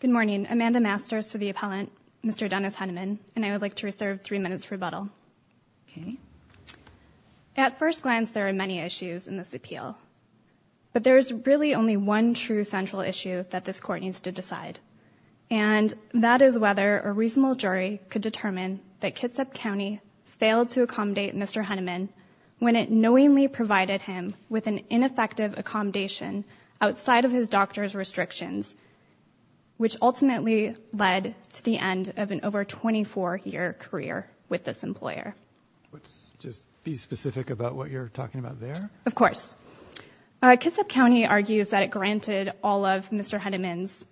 Good morning, Amanda Masters for the appellant, Mr. Dennis Henneman, and I would like to reserve three minutes for rebuttal. At first glance, there are many issues in this appeal, but there is really only one true central issue that this court needs to decide, and that is whether a reasonable jury could determine that Kitsap County failed to accommodate Mr. Henneman when it knowingly provided him with an ineffective accommodation outside of his doctor's restrictions, which ultimately led to the end of an over 24-year career with this employer. Let's just be specific about what you're talking about there. Of course. Kitsap County argues that it granted all of Mr. Henneman's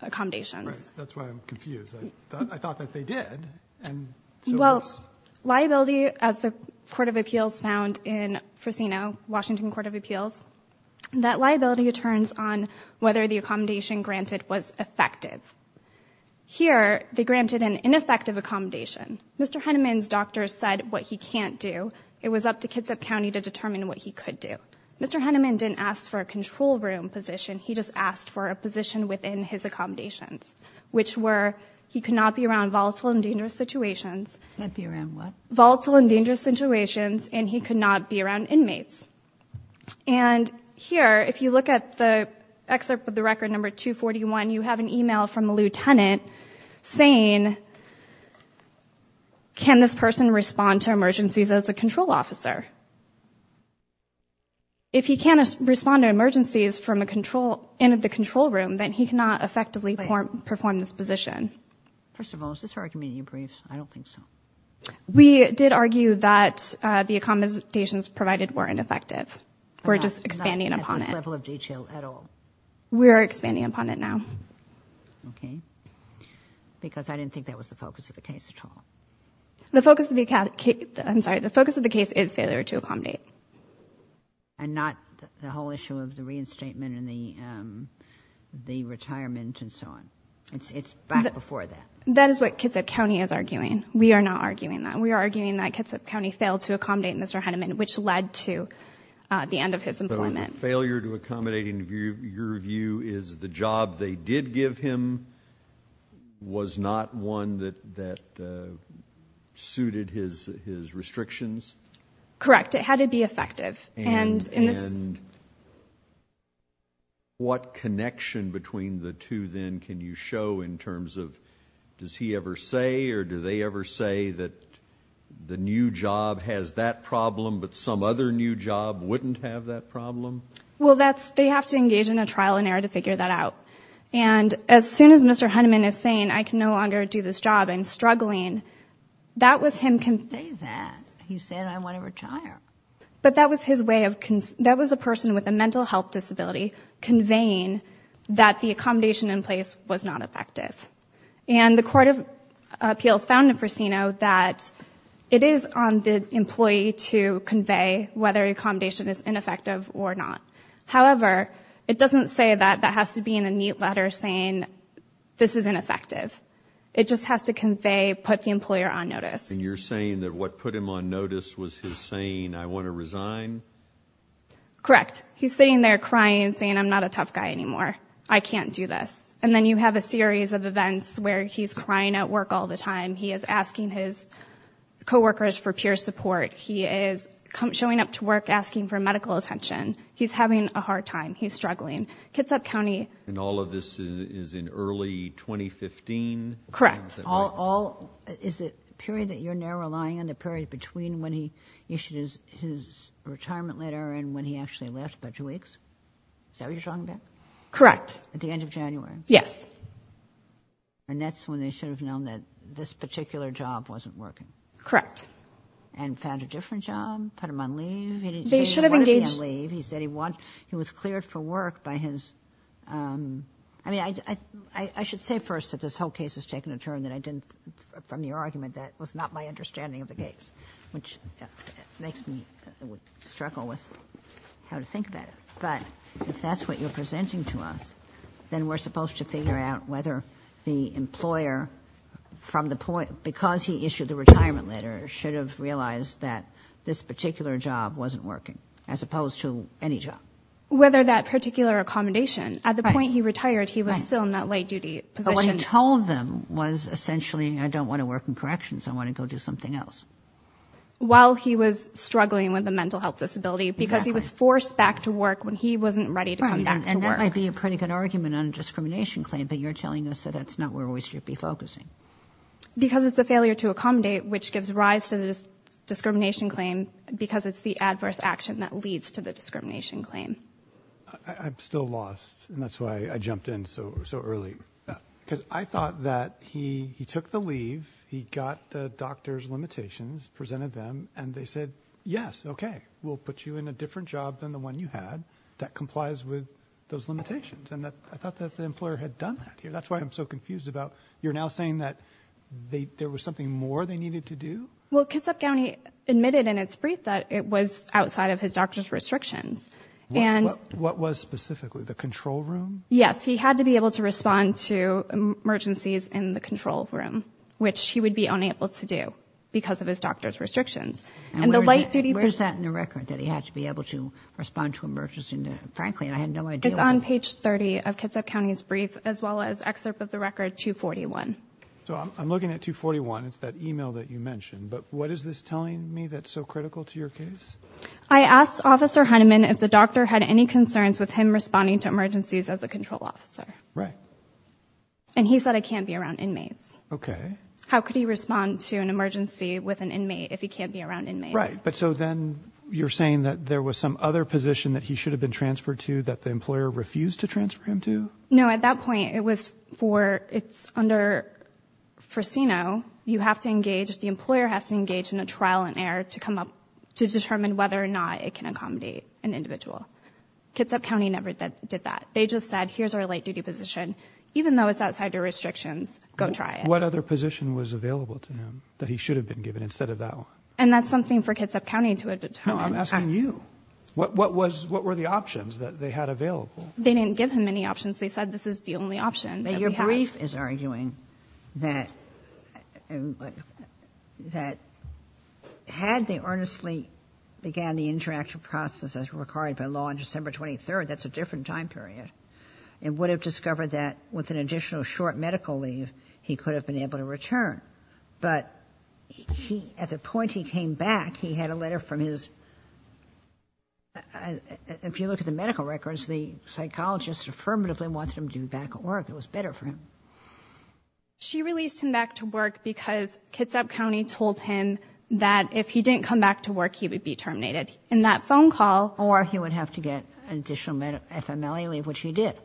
accommodations. Right. That's why I'm confused. I thought that they did, and so what's... Well, liability, as the Court of Appeals found in Frosino, Washington Court of Appeals, that liability returns on whether the accommodation granted was effective. Here, they granted an ineffective accommodation. Mr. Henneman's doctor said what he can't do. It was up to Kitsap County to determine what he could do. Mr. Henneman didn't ask for a control room position. He just asked for a position within his accommodations, which were he could not be around volatile and dangerous situations. Could not be around what? Volatile and dangerous situations, and he could not be around inmates. Here, if you look at the excerpt with the record number 241, you have an email from a lieutenant saying, can this person respond to emergencies as a control officer? If he can't respond to an emergency in the control room, then he cannot effectively perform this position. First of all, is this argument in your briefs? I don't think so. We did argue that the accommodations provided weren't effective. We're just expanding upon it. Not at this level of detail at all. We're expanding upon it now. Okay. Because I didn't think that was the focus of the case at all. The focus of the case is failure to accommodate. And not the whole issue of the reinstatement and the retirement and so on. It's back before that. That is what Kitsap County is arguing. We are not arguing that. We are arguing that Kitsap County failed to accommodate Mr. Henneman, which led to the end of his employment. But a failure to accommodate, in your view, is the job they did give him was not one that suited his restrictions? Correct. It had to be effective. And what connection between the two, then, can you show in terms of, does he ever say or do they ever say that the new job has that problem but some other new job wouldn't have that problem? Well, they have to engage in a trial and error to figure that out. And as soon as Mr. Henneman is saying, I can no longer do this job, I'm struggling, that was him conveying that. He said, I want to retire. But that was his way of, that was a person with a mental health disability conveying that the accommodation in place was not effective. And the Court of Appeals found in Frosino that it is on the employee to convey whether accommodation is ineffective or not. However, it doesn't say that that has to be in a neat letter saying, this is ineffective. It just has to convey, put the employer on notice. And you're saying that what put him on notice was his saying, I want to resign? Correct. He's sitting there crying and saying, I'm not a tough guy anymore. I can't do this. And then you have a series of events where he's crying at work all the time. He is asking his co-workers for peer support. He is showing up to work asking for medical attention. He's having a hard time. He's struggling. Kitsap County And all of this is in early 2015? Correct. Is it a period that you're now relying on, the period between when he issued his retirement letter and when he actually left, about two weeks? Is that what you're talking about? Correct. At the end of January? Yes. And that's when they should have known that this particular job wasn't working? Correct. And found a different job, put him on leave? They should have engaged He said he wanted to be on leave. He said he was cleared for work by his, I mean, I from your argument, that was not my understanding of the case, which makes me struggle with how to think about it. But if that's what you're presenting to us, then we're supposed to figure out whether the employer, from the point, because he issued the retirement letter, should have realized that this particular job wasn't working, as opposed to any job. Whether that particular accommodation, at the point he retired, he was still in that late duty position. So what he told them was, essentially, I don't want to work in corrections, I want to go do something else. While he was struggling with a mental health disability, because he was forced back to work when he wasn't ready to come back to work. And that might be a pretty good argument on a discrimination claim, but you're telling us that that's not where we should be focusing. Because it's a failure to accommodate, which gives rise to the discrimination claim, because it's the adverse action that leads to the discrimination claim. I'm still lost, and that's why I jumped in so early. Because I thought that he took the leave, he got the doctor's limitations, presented them, and they said, yes, okay, we'll put you in a different job than the one you had that complies with those limitations. And I thought that the employer had done that. That's why I'm so confused about, you're now saying that there was something more they needed to do? Well, Kitsap County admitted in its brief that it was outside of his doctor's restrictions. What was specifically? The control room? Yes. He had to be able to respond to emergencies in the control room, which he would be unable to do because of his doctor's restrictions. And the light duty... Where's that in the record? That he had to be able to respond to emergencies? Frankly, I had no idea. It's on page 30 of Kitsap County's brief, as well as excerpt of the record 241. So I'm looking at 241, it's that email that you mentioned. But what is this telling me that's so critical to your case? I asked Officer Heinemann if the doctor had any concerns with him responding to emergencies as a control officer. And he said it can't be around inmates. How could he respond to an emergency with an inmate if he can't be around inmates? But so then you're saying that there was some other position that he should have been transferred to that the employer refused to transfer him to? No, at that point it was for... It's under Freseno. You have to engage... The employer has to engage in a trial and error to come up... To determine whether or not it can accommodate an individual. Kitsap County never did that. They just said, here's our light duty position. Even though it's outside your restrictions, go try it. What other position was available to him that he should have been given instead of that one? And that's something for Kitsap County to have determined. No, I'm asking you. What were the options that they had available? They didn't give him any options. They said this is the only option. Your brief is arguing that had they earnestly began the interaction process as required by law on December 23rd, that's a different time period, and would have discovered that with an additional short medical leave, he could have been able to return. But at the point he came back, he had a letter from his, if you look at the medical records, the psychologist affirmatively wanted him to be back at work. It was better for him. She released him back to work because Kitsap County told him that if he didn't come back to work, he would be terminated. And that phone call- Or he would have to get an additional FMLA leave, which he did.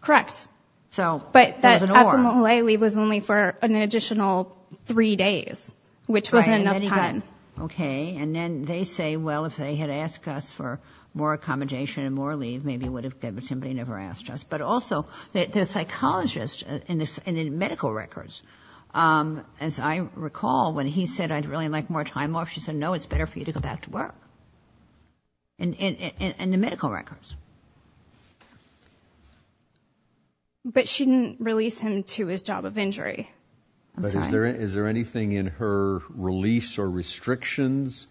Correct. So- But that FMLA leave was only for an additional three days, which wasn't enough time. Okay. And then they say, well, if they had asked us for more accommodation and more leave, maybe it would have been good, but somebody never asked us. But also, the psychologist in the medical records, as I recall, when he said, I'd really like more time off, she said, no, it's better for you to go back to work, in the medical records. But she didn't release him to his job of injury. I'm sorry. But is there anything in her release or restrictions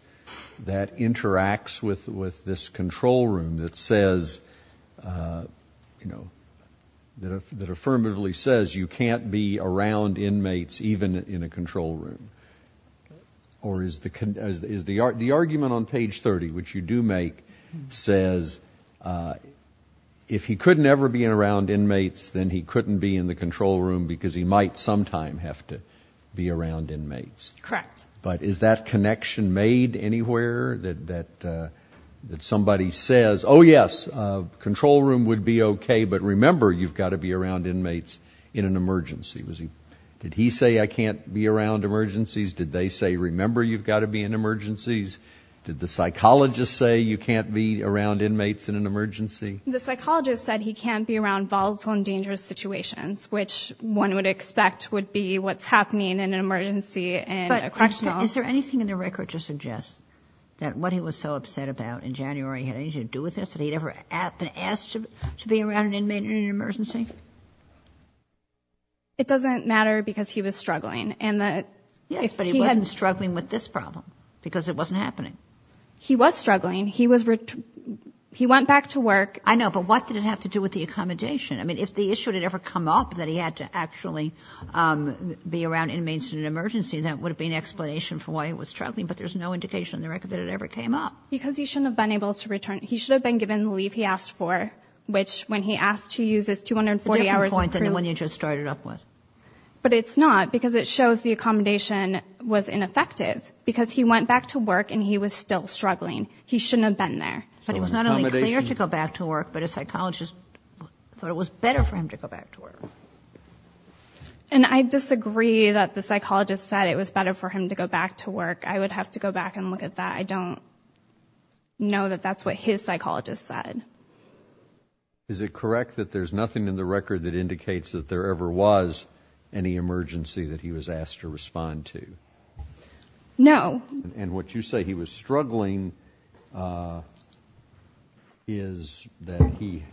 that interacts with this control room that says, you know, that affirmatively says you can't be around inmates, even in a control room? Okay. Or is the argument on page 30, which you do make, says if he couldn't ever be around inmates, then he couldn't be in the control room because he might sometime have to be around inmates? Correct. But is that connection made anywhere that somebody says, oh, yes, a control room would be okay, but remember, you've got to be around inmates in an emergency? Did he say I can't be around emergencies? Did they say, remember, you've got to be in emergencies? Did the psychologist say you can't be around inmates in an emergency? The psychologist said he can't be around volatile and dangerous situations, which one would expect would be what's happening in an emergency and a correctional. But is there anything in the record to suggest that what he was so upset about in January had anything to do with this, that he'd ever been asked to be around an inmate in an emergency? It doesn't matter because he was struggling. And that if he hadn't... Yes, but he wasn't struggling with this problem because it wasn't happening. He was struggling. He was... He went back to work. I know. But what did it have to do with the accommodation? I mean, if the issue had ever come up that he had to actually be around inmates in an emergency, that would have been an explanation for why he was struggling, but there's no indication in the record that it ever came up. Because he shouldn't have been able to return. He should have been given the leave he asked for, which when he asked to use his 240 hours of... A different point than the one you just started up with. But it's not because it shows the accommodation was ineffective because he went back to work and he was still struggling. He shouldn't have been there. But it was not only clear to go back to work, but a psychologist thought it was better for him to go back to work. And I disagree that the psychologist said it was better for him to go back to work. I would have to go back and look at that. I don't know that that's what his psychologist said. Is it correct that there's nothing in the record that indicates that there ever was any emergency that he was asked to respond to? No. And what you say he was struggling is that he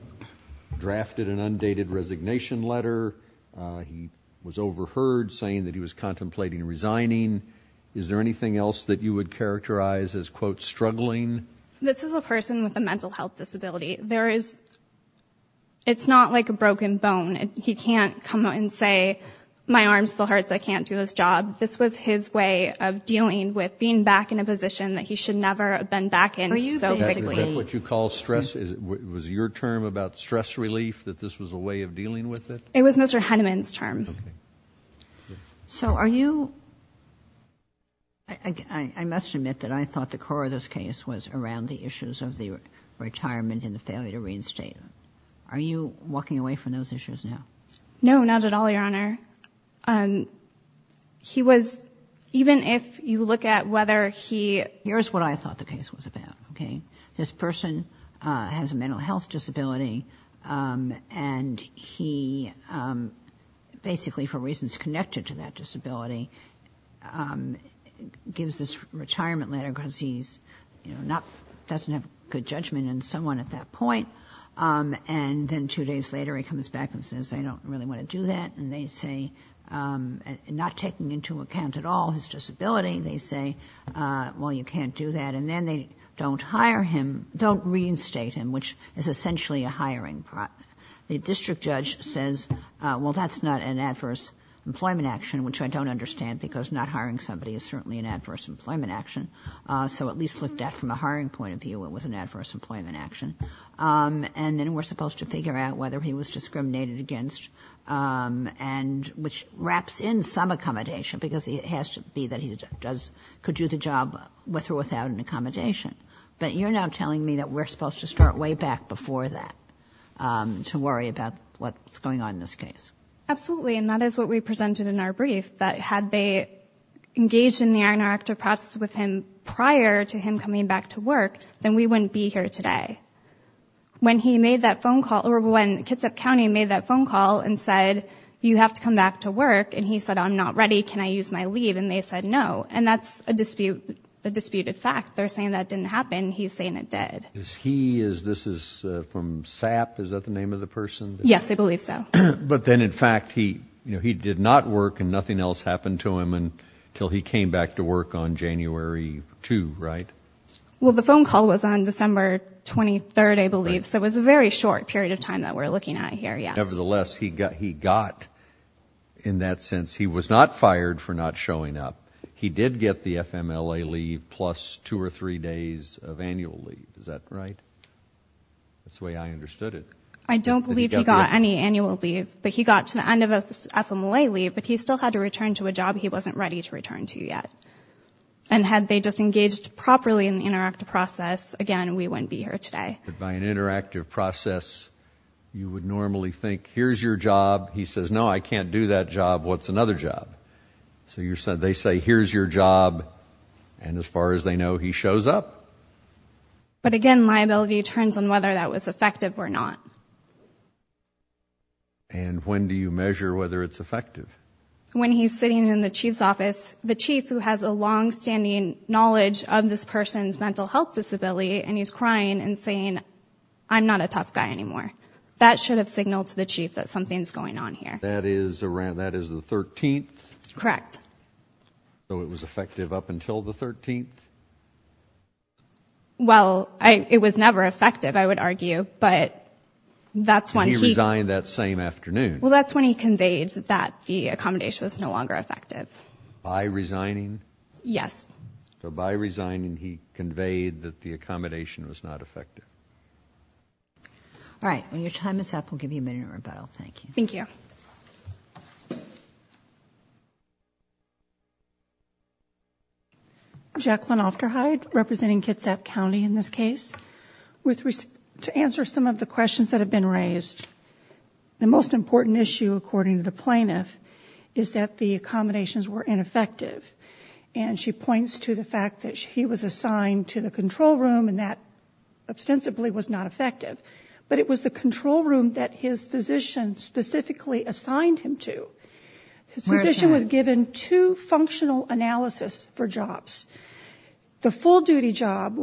drafted an undated resignation letter. He was overheard saying that he was contemplating resigning. Is there anything else that you would characterize as, quote, struggling? This is a person with a mental health disability. It's not like a broken bone. He can't come out and say, my arm still hurts, I can't do this job. This was his way of dealing with being back in a position that he should never have been back in so quickly. Are you saying that's what you call stress? Was your term about stress relief, that this was a way of dealing with it? It was Mr. Henneman's term. So are you, I must admit that I thought the core of this case was around the issues of the retirement and the failure to reinstate. Are you walking away from those issues now? No, not at all, Your Honor. He was, even if you look at whether he... Here's what I thought the case was about, okay? This person has a mental health disability and he basically, for reasons connected to that disability, gives this retirement letter because he doesn't have good judgment in someone at that point. And then two days later, he comes back and says, I don't really want to do that. And they say, not taking into account at all his disability, they say, well, you can't do that. And then they don't hire him, don't reinstate him, which is essentially a hiring. The district judge says, well, that's not an adverse employment action, which I don't understand because not hiring somebody is certainly an adverse employment action. So at least looked at from a hiring point of view, it was an adverse employment action. And then we're supposed to figure out whether he was discriminated against, which wraps in some accommodation because it has to be that he could do the job with or without an accommodation. But you're now telling me that we're supposed to start way back before that to worry about what's going on in this case. Absolutely. And that is what we presented in our brief, that had they engaged in the iron or active prior to him coming back to work, then we wouldn't be here today. When he made that phone call or when Kitsap County made that phone call and said, you have to come back to work. And he said, I'm not ready. Can I use my leave? And they said, no. And that's a dispute, a disputed fact. They're saying that didn't happen. He's saying it did. He is. This is from SAP. Is that the name of the person? Yes, I believe so. But then, in fact, he, you know, he did not work and nothing else happened to him until he came back to work on January 2, right? Well, the phone call was on December 23rd, I believe. So it was a very short period of time that we're looking at here. Nevertheless, he got, he got in that sense, he was not fired for not showing up. He did get the FMLA leave plus two or three days of annual leave. Is that right? That's the way I understood it. I don't believe he got any annual leave, but he got to the end of FMLA leave, but he still had to return to a job. He wasn't ready to return to yet. And had they just engaged properly in the interactive process, again, we wouldn't be here today. But by an interactive process, you would normally think, here's your job. He says, no, I can't do that job. What's another job? So you said, they say, here's your job. And as far as they know, he shows up. But again, liability turns on whether that was effective or not. And when do you measure whether it's effective? When he's sitting in the chief's office, the chief who has a long-standing knowledge of this person's mental health disability, and he's crying and saying, I'm not a tough guy anymore. That should have signaled to the chief that something's going on here. That is around, that is the 13th? Correct. So it was effective up until the 13th? Well, it was never effective, I would argue, but that's when he... And he resigned that same afternoon? Well, that's when he conveyed that the accommodation was no longer effective. By resigning? Yes. So by resigning, he conveyed that the accommodation was not effective. All right. When your time is up, we'll give you a minute of rebuttal. Thank you. Thank you. Jacqueline Ofterhide, representing Kitsap County in this case. To answer some of the questions that have been raised, the most important issue, according to the plaintiff, is that the accommodations were ineffective. And she points to the fact that he was assigned to the control room and that ostensibly was not effective. But it was the control room that his physician specifically assigned him to. His physician was given two functional analysis for jobs. The full-duty job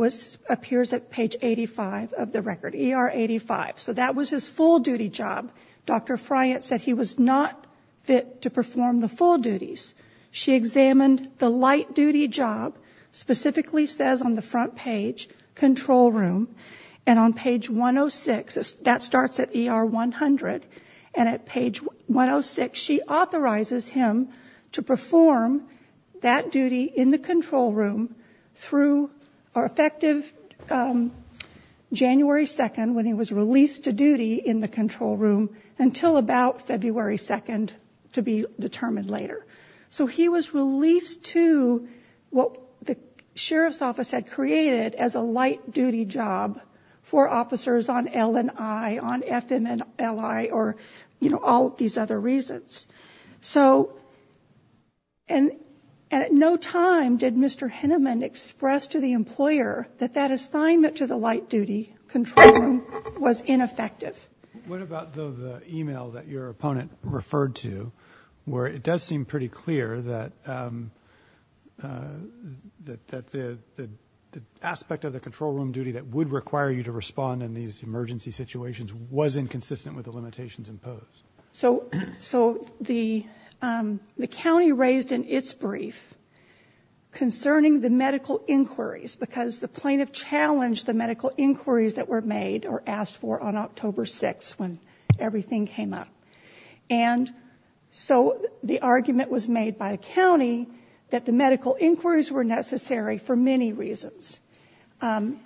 appears at page 85 of the record, ER 85. So that was his full-duty job. Dr. Friant said he was not fit to perform the full duties. She examined the light-duty job, specifically says on the front page, control room. And on page 106, that starts at ER 100, and at page 106, she authorizes him to perform that duty in the control room through our effective January 2nd, when he was released to duty in the control room, until about February 2nd, to be determined later. So he was released to what the sheriff's office had created as a light-duty job for officers on L&I, on FM&LI, or, you know, all of these other reasons. So, and at no time did Mr. Henneman express to the employer that that assignment to the light-duty control room was ineffective. What about the email that your opponent referred to, where it does seem pretty clear that the aspect of the control room duty that would require you to respond in these emergency situations was inconsistent with the limitations imposed? So the county raised in its brief concerning the medical inquiries, because the plaintiff challenged the medical inquiries that were made or asked for on October 6th, when everything came up. And so the argument was made by the county that the medical inquiries were necessary for many reasons. And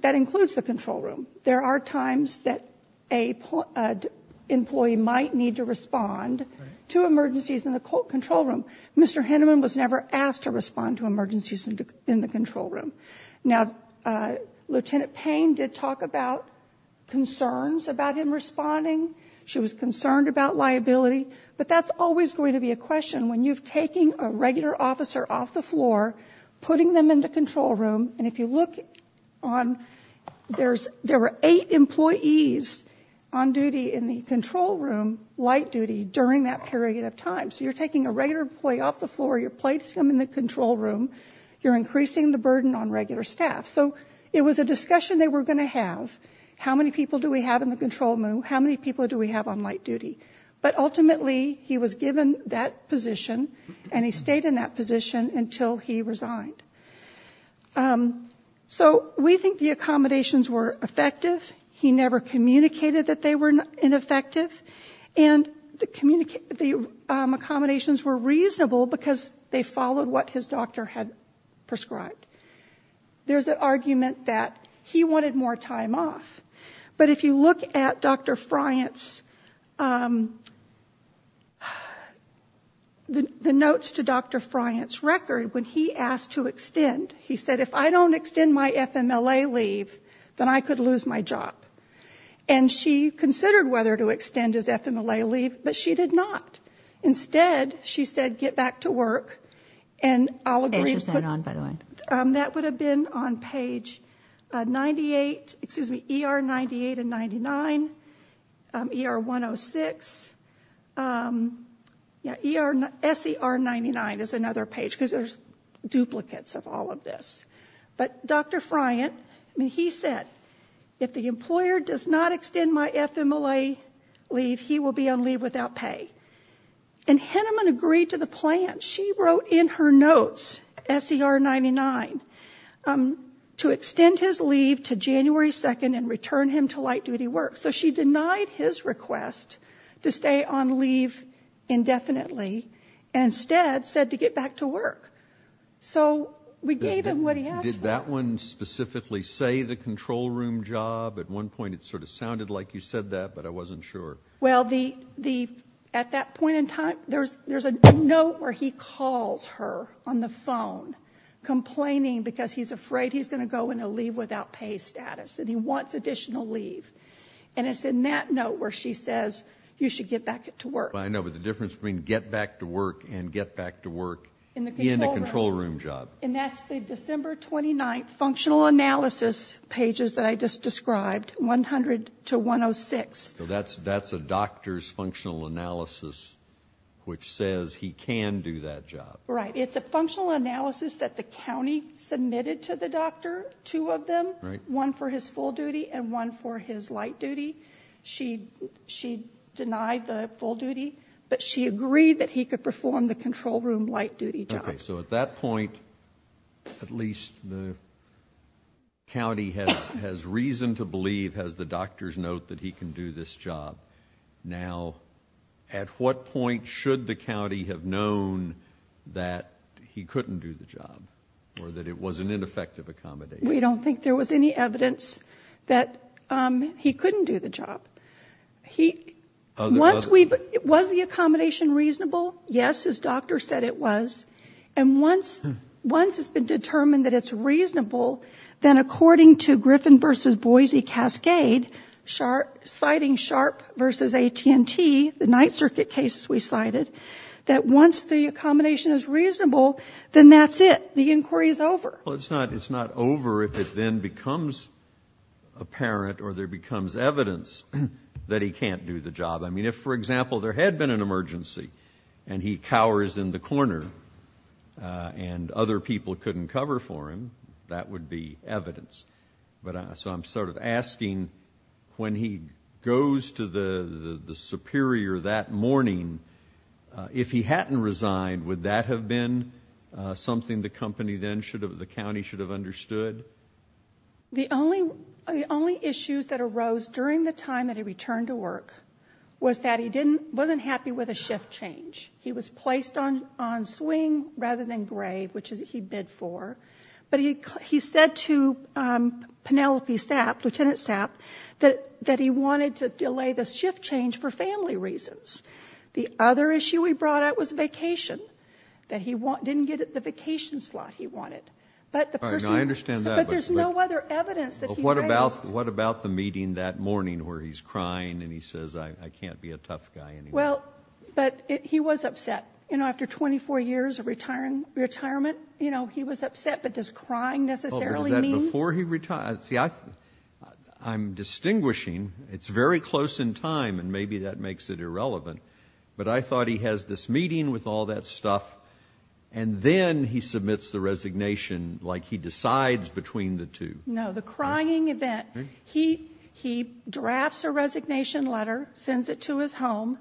that includes the control room. There are times that an employee might need to respond to emergencies in the control room. Mr. Henneman was never asked to respond to emergencies in the control room. Now, Lieutenant Payne did talk about concerns about him responding. She was concerned about liability. But that's always going to be a question. When you've taken a regular officer off the floor, putting them in the control room, and if you look on, there were eight employees on duty in the control room, light duty, during that period of time. So you're taking a regular employee off the floor, you're placing them in the control room, you're increasing the burden on regular staff. So it was a discussion they were going to have. How many people do we have in the control room? How many people do we have on light duty? But ultimately, he was given that position, and he stayed in that position until he resigned. So we think the accommodations were effective. He never communicated that they were ineffective. And the accommodations were reasonable because they followed what his doctor had prescribed. There's an argument that he wanted more time off. But if you look at Dr. Friant's, the notes to Dr. Friant's record, when he asked to extend, he said, if I don't extend my FMLA leave, then I could lose my job. And she considered whether to extend his FMLA leave, but she did not. Instead, she said, get back to work. And I'll agree with her. Page is not on, by the way. That would have been on page 98, excuse me, ER 98 and 99, ER 106. Yeah, SER 99 is another page because there's duplicates of all of this. But Dr. Friant, I mean, he said, if the employer does not extend my FMLA leave, he will be on leave without pay. And Henneman agreed to the plan. She wrote in her notes, SER 99, to extend his leave to January 2nd and return him to light duty work. So she denied his request to stay on leave indefinitely and instead said to get back to work. So we gave him what he asked for. Did that one specifically say the control room job? At one point, it sort of sounded like you said that, but I wasn't sure. Well, at that point in time, there's a note where he calls her on the phone complaining because he's afraid he's going to go on a leave without pay status and he wants additional leave. And it's in that note where she says, you should get back to work. I know, but the difference between get back to work and get back to work in the control room job. And that's the December 29th functional analysis pages that I just described, 100 to 106. So that's a doctor's functional analysis, which says he can do that job. Right. It's a functional analysis that the county submitted to the doctor, two of them, one for his full duty and one for his light duty. She denied the full duty, but she agreed that he could perform the control room light duty job. So at that point, at least the county has reason to believe, has the doctor's note that he can do this job. Now, at what point should the county have known that he couldn't do the job or that it was an ineffective accommodation? We don't think there was any evidence that he couldn't do the job. Was the accommodation reasonable? Yes, his doctor said it was. And once it's been determined that it's reasonable, then according to Griffin versus Boise Cascade, citing Sharp versus AT&T, the Ninth Circuit cases we cited, that once the accommodation is reasonable, then that's it. The inquiry is over. Well, it's not over if it then becomes apparent or there becomes evidence that he can't do the job. I mean, if, for example, there had been an emergency and he cowers in the corner and other people couldn't cover for him, that would be evidence. But so I'm sort of asking, when he goes to the superior that morning, if he hadn't resigned, would that have been something the county should have understood? The only issues that arose during the time that he returned to work was that he wasn't happy with a shift change. He was placed on swing rather than grave, which he bid for. But he said to Penelope Sapp, Lieutenant Sapp, that he wanted to delay the shift change for family reasons. The other issue he brought up was vacation, that he didn't get the vacation slot he wanted. But the person- I understand that, but- But there's no other evidence that he raised. What about the meeting that morning where he's crying and he says, I can't be a tough guy anymore? Well, but he was upset. After 24 years of retirement, he was upset, but does crying necessarily mean- Well, was that before he retired? See, I'm distinguishing. It's very close in time, and maybe that makes it irrelevant. But I thought he has this meeting with all that stuff, and then he submits the resignation like he decides between the two. No, the crying event. He drafts a resignation letter, sends it to his home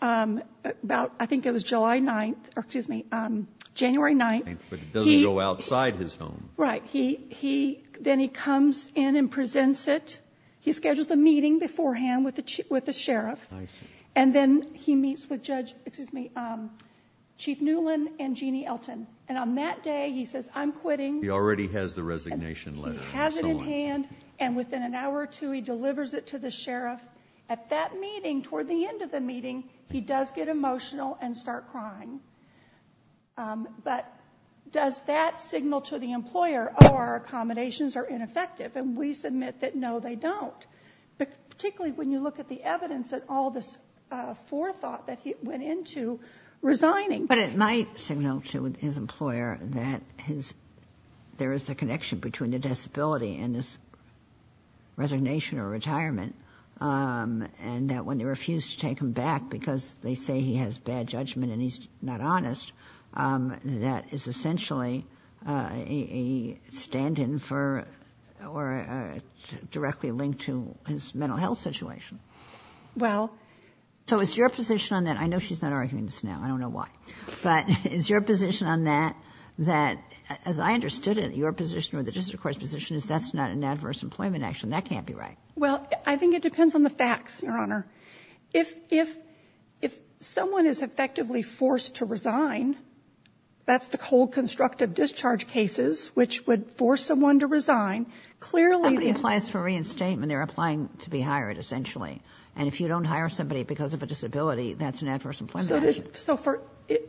about, I think it was July 9th, or excuse me, January 9th. But it doesn't go outside his home. Right. Then he comes in and presents it. He schedules a meeting beforehand with the sheriff. I see. And then he meets with Chief Newland and Jeannie Elton. And on that day, he says, I'm quitting. He already has the resignation letter. He has it in hand, and within an hour or two, he delivers it to the sheriff. At that meeting, toward the end of the meeting, he does get emotional and start crying. But does that signal to the employer, our accommodations are ineffective? And we submit that no, they don't. But particularly when you look at the evidence and all this forethought that he went into resigning. But it might signal to his employer that there is a connection between the disability and this resignation or retirement. And that when they refuse to take him back because they say he has bad judgment and he's not honest, that is essentially a stand-in for, or directly linked to his mental health situation. Well. So is your position on that, I know she's not arguing this now, I don't know why. But is your position on that, that, as I understood it, your position or the District Court's position is that's not an adverse employment action. That can't be right. Well, I think it depends on the facts, Your Honor. If someone is effectively forced to resign, that's the cold constructive discharge cases, which would force someone to resign, clearly- Somebody applies for reinstatement, they're applying to be hired, essentially. And if you don't hire somebody because of a disability, that's an adverse employment action.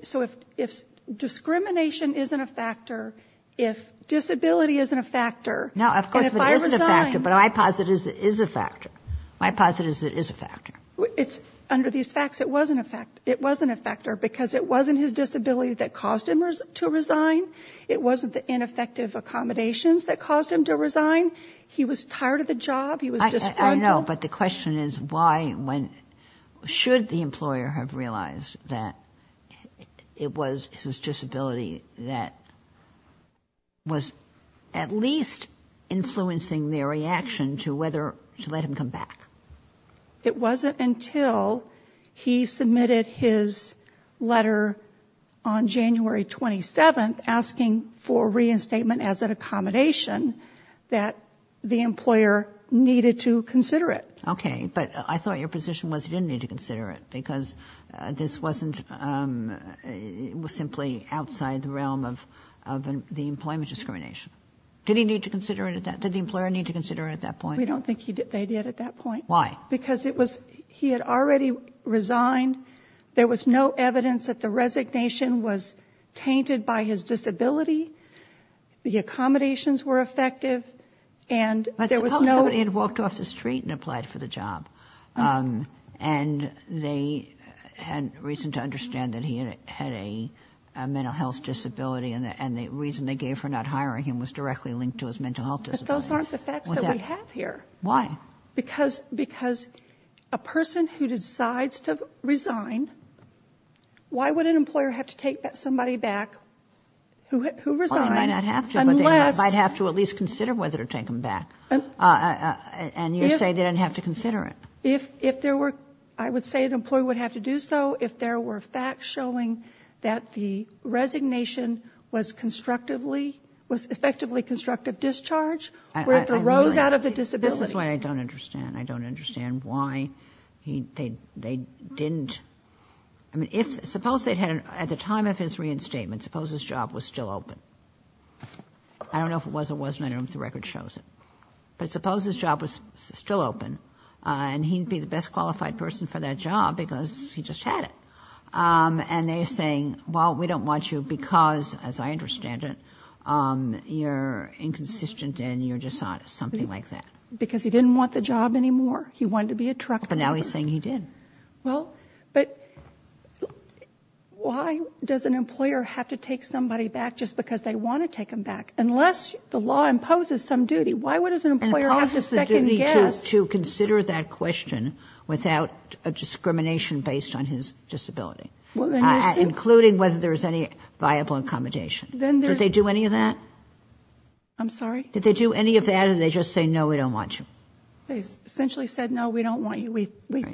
So if discrimination isn't a factor, if disability isn't a factor, and if I resign- No, of course it is a factor, but I posit it is a factor. My posit is it is a factor. It's, under these facts, it wasn't a factor, because it wasn't his disability that caused him to resign. It wasn't the ineffective accommodations that caused him to resign. He was tired of the job, he was disgruntled- I know, but the question is why, when, should the employer have realized that it was his disability that was at least influencing their reaction to whether to let him come back? It wasn't until he submitted his letter on January 27th, asking for reinstatement as an accommodation, that the employer needed to consider it. Okay, but I thought your position was you didn't need to consider it, because this wasn't, it was simply outside the realm of the employment discrimination. Did he need to consider it at that, did the employer need to consider it at that point? We don't think they did at that point. Why? Because it was, he had already resigned, there was no evidence that the resignation was tainted by his disability, the accommodations were effective, and there was no- But suppose somebody had walked off the street and applied for the job, and they had reason to understand that he had a mental health disability, and the reason they gave for not hiring him was directly linked to his mental health disability. But those aren't the facts that we have here. Why? Because a person who decides to resign, why would an employer have to take somebody back who resigned? Well, they might not have to, but they might have to at least consider whether to take him back. And you're saying they didn't have to consider it. If there were, I would say an employer would have to do so if there were facts showing that the resignation was effectively constructive discharge, or it arose out of the disability. This is what I don't understand. I don't understand why they didn't, I mean if, suppose they had, at the time of his reinstatement, suppose his job was still open. I don't know if it was or wasn't, I don't know if the record shows it. But suppose his job was still open, and he'd be the best qualified person for that job because he just had it. And they're saying, well, we don't want you because, as I understand it, you're inconsistent and you're dishonest, something like that. Because he didn't want the job anymore. He wanted to be a truck driver. But now he's saying he did. Well, but why does an employer have to take somebody back just because they want to take them back? Unless the law imposes some duty, why would an employer have to second guess? To consider that question without a discrimination based on his disability. Including whether there's any viable accommodation. Did they do any of that? I'm sorry? Did they do any of that or did they just say, no, we don't want you? They essentially said, no, we don't want you.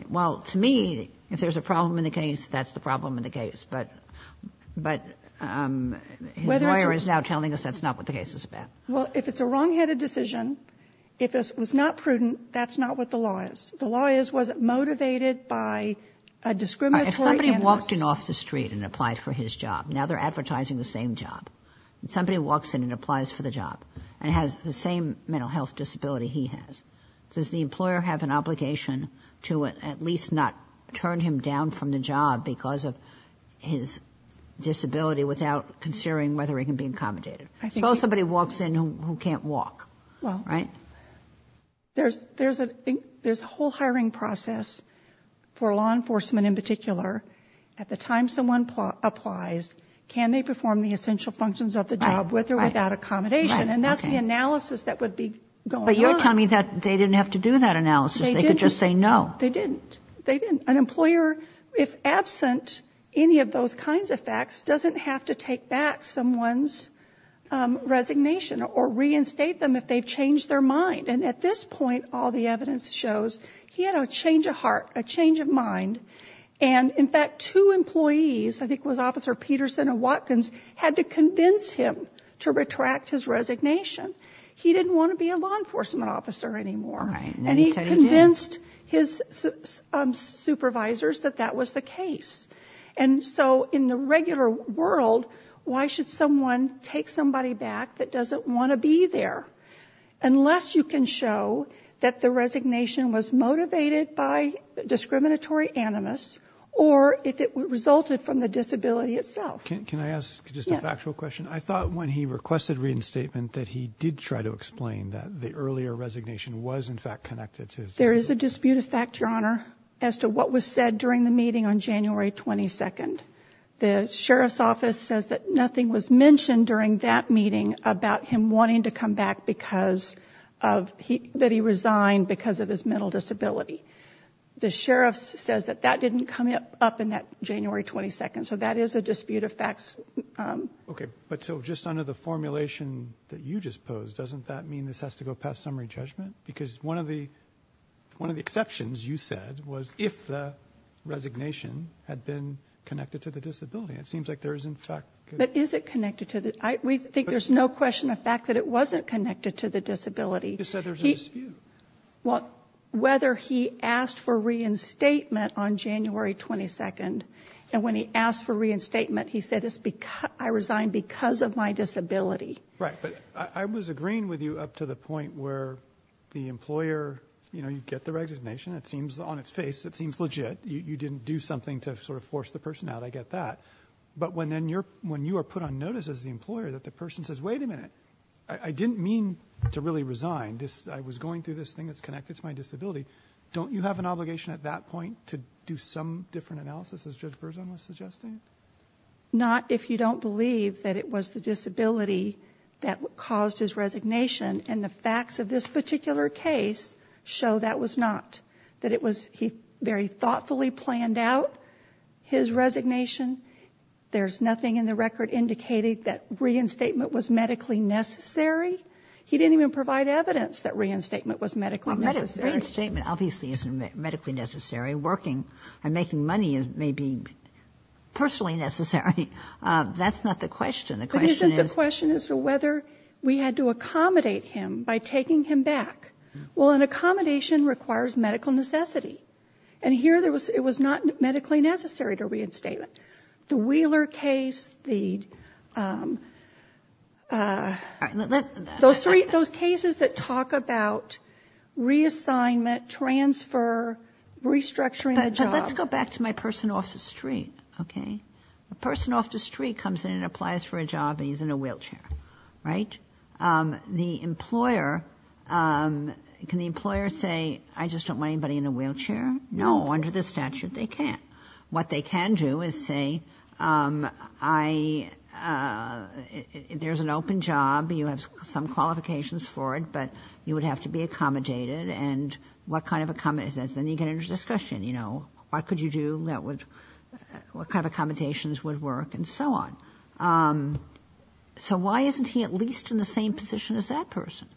Well, to me, if there's a problem in the case, that's the problem in the case. But his lawyer is now telling us that's not what the case is about. Well, if it's a wrong headed decision, if it was not prudent, that's not what the law is. The law is, was it motivated by a discriminatory- If somebody walked in off the street and applied for his job, now they're advertising the same job. Somebody walks in and applies for the job and has the same mental health disability he has. Does the employer have an obligation to at least not turn him down from the job because of his disability without considering whether he can be accommodated? Suppose somebody walks in who can't walk, right? There's a whole hiring process for law enforcement in particular. At the time someone applies, can they perform the essential functions of the job with or without accommodation? And that's the analysis that would be going on. But you're telling me that they didn't have to do that analysis. They could just say no. They didn't. They didn't. An employer, if absent any of those kinds of facts, doesn't have to take back someone's resignation or reinstate them if they've changed their mind. And at this point, all the evidence shows he had a change of heart, a change of mind. And in fact, two employees, I think it was Officer Peterson and Watkins, had to convince him to retract his resignation. He didn't want to be a law enforcement officer anymore. And he convinced his supervisors that that was the case. And so in the regular world, why should someone take somebody back that doesn't want to be there unless you can show that the resignation was motivated by discriminatory animus, or if it resulted from the disability itself? Can I ask just a factual question? I thought when he requested reinstatement that he did try to explain that the earlier resignation was in fact connected to his disability. It's a disputed fact, Your Honor, as to what was said during the meeting on January 22nd. The Sheriff's Office says that nothing was mentioned during that meeting about him wanting to come back because of, that he resigned because of his mental disability. The Sheriff's says that that didn't come up in that January 22nd, so that is a disputed fact. Okay, but so just under the formulation that you just posed, doesn't that mean this has to go past summary judgment? Because one of the exceptions, you said, was if the resignation had been connected to the disability. It seems like there is in fact- But is it connected to the, we think there's no question of the fact that it wasn't connected to the disability. You said there's a dispute. Well, whether he asked for reinstatement on January 22nd, and when he asked for reinstatement, he said, I resigned because of my disability. Right, but I was agreeing with you up to the point where the employer, you get the resignation, it seems on its face, it seems legit. You didn't do something to sort of force the person out, I get that. But when you are put on notice as the employer, that the person says, wait a minute, I didn't mean to really resign. I was going through this thing that's connected to my disability. Don't you have an obligation at that point to do some different analysis, as Judge Berzon was suggesting? Not if you don't believe that it was the disability that caused his resignation. And the facts of this particular case show that was not, that it was, he very thoughtfully planned out his resignation. There's nothing in the record indicating that reinstatement was medically necessary. He didn't even provide evidence that reinstatement was medically necessary. Reinstatement obviously isn't medically necessary. Working and making money may be personally necessary. That's not the question. The question is- The question is whether we had to accommodate him by taking him back. Well, an accommodation requires medical necessity. And here it was not medically necessary to reinstate it. The Wheeler case, the- Those three, those cases that talk about reassignment, transfer, restructuring the job. But let's go back to my person off the street, okay? A person off the street comes in and applies for a job and he's in a wheelchair, right? The employer, can the employer say, I just don't want anybody in a wheelchair? No, under the statute, they can't. What they can do is say, I, there's an open job, you have some qualifications for it, but you would have to be accommodated and what kind of, then you get into discussion. You know, what could you do that would, what kind of accommodations would work and so on. So why isn't he at least in the same position as that person?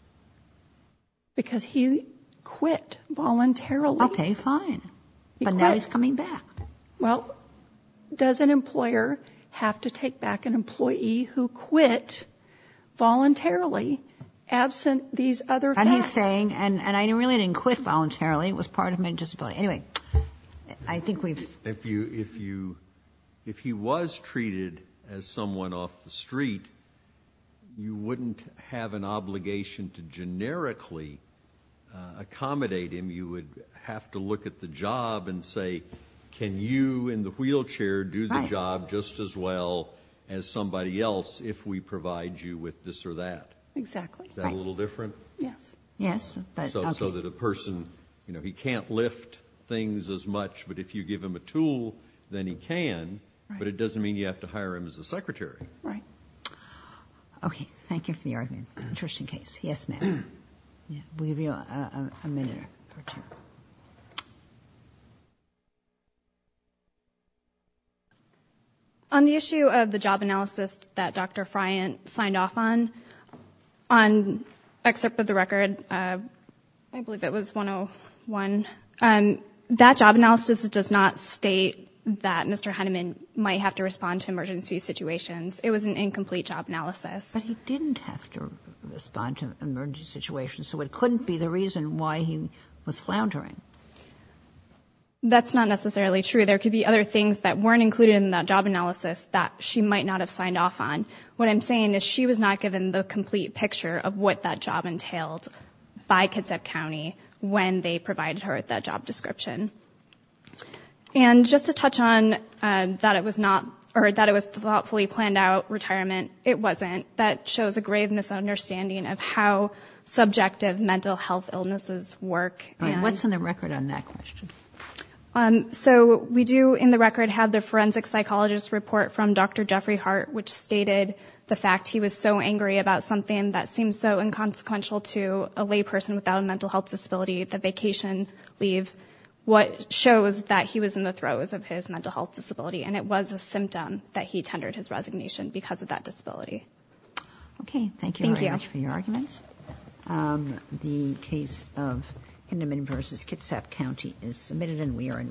Because he quit voluntarily. Okay, fine. But now he's coming back. Well, does an employer have to take back an employee who quit voluntarily, absent these other factors? And he's saying, and I really didn't quit voluntarily, it was part of my disability. Anyway, I think we've- If you, if he was treated as someone off the street, you wouldn't have an obligation to generically accommodate him. You would have to look at the job and say, can you in the wheelchair do the job just as well as somebody else if we provide you with this or that? Exactly. Is that a little different? Yes. Yes, but- So that a person, you know, he can't lift things as much, but if you give him a tool, then he can. But it doesn't mean you have to hire him as a secretary. Right. Okay, thank you for the argument. Interesting case. Yes, ma'am. We'll give you a minute or two. On the issue of the job analysis that Dr. Friant signed off on, on excerpt of the record, I believe it was 101. That job analysis does not state that Mr. Henneman might have to respond to emergency situations. It was an incomplete job analysis. But he didn't have to respond to emergency situations. So it couldn't be the reason why he was floundering. That's not necessarily true. There could be other things that weren't included in that job analysis that she might not have signed off on. What I'm saying is she was not given the complete picture of what that job entailed by Kitsap County when they provided her with that job description. And just to touch on that it was not, or that it was thoughtfully planned out retirement, it wasn't. That shows a grave misunderstanding of how subjective mental health illnesses work. What's on the record on that question? So we do in the record have the forensic psychologist report from Dr. Jeffrey Hart, which stated the fact he was so angry about something that seems so inconsequential to a lay person without a mental health disability, the vacation leave. What shows that he was in the throes of his mental health disability, and it was a symptom that he tendered his resignation because of that disability. Okay, thank you very much for your arguments. The case of Hindeman versus Kitsap County is submitted and we are in recess.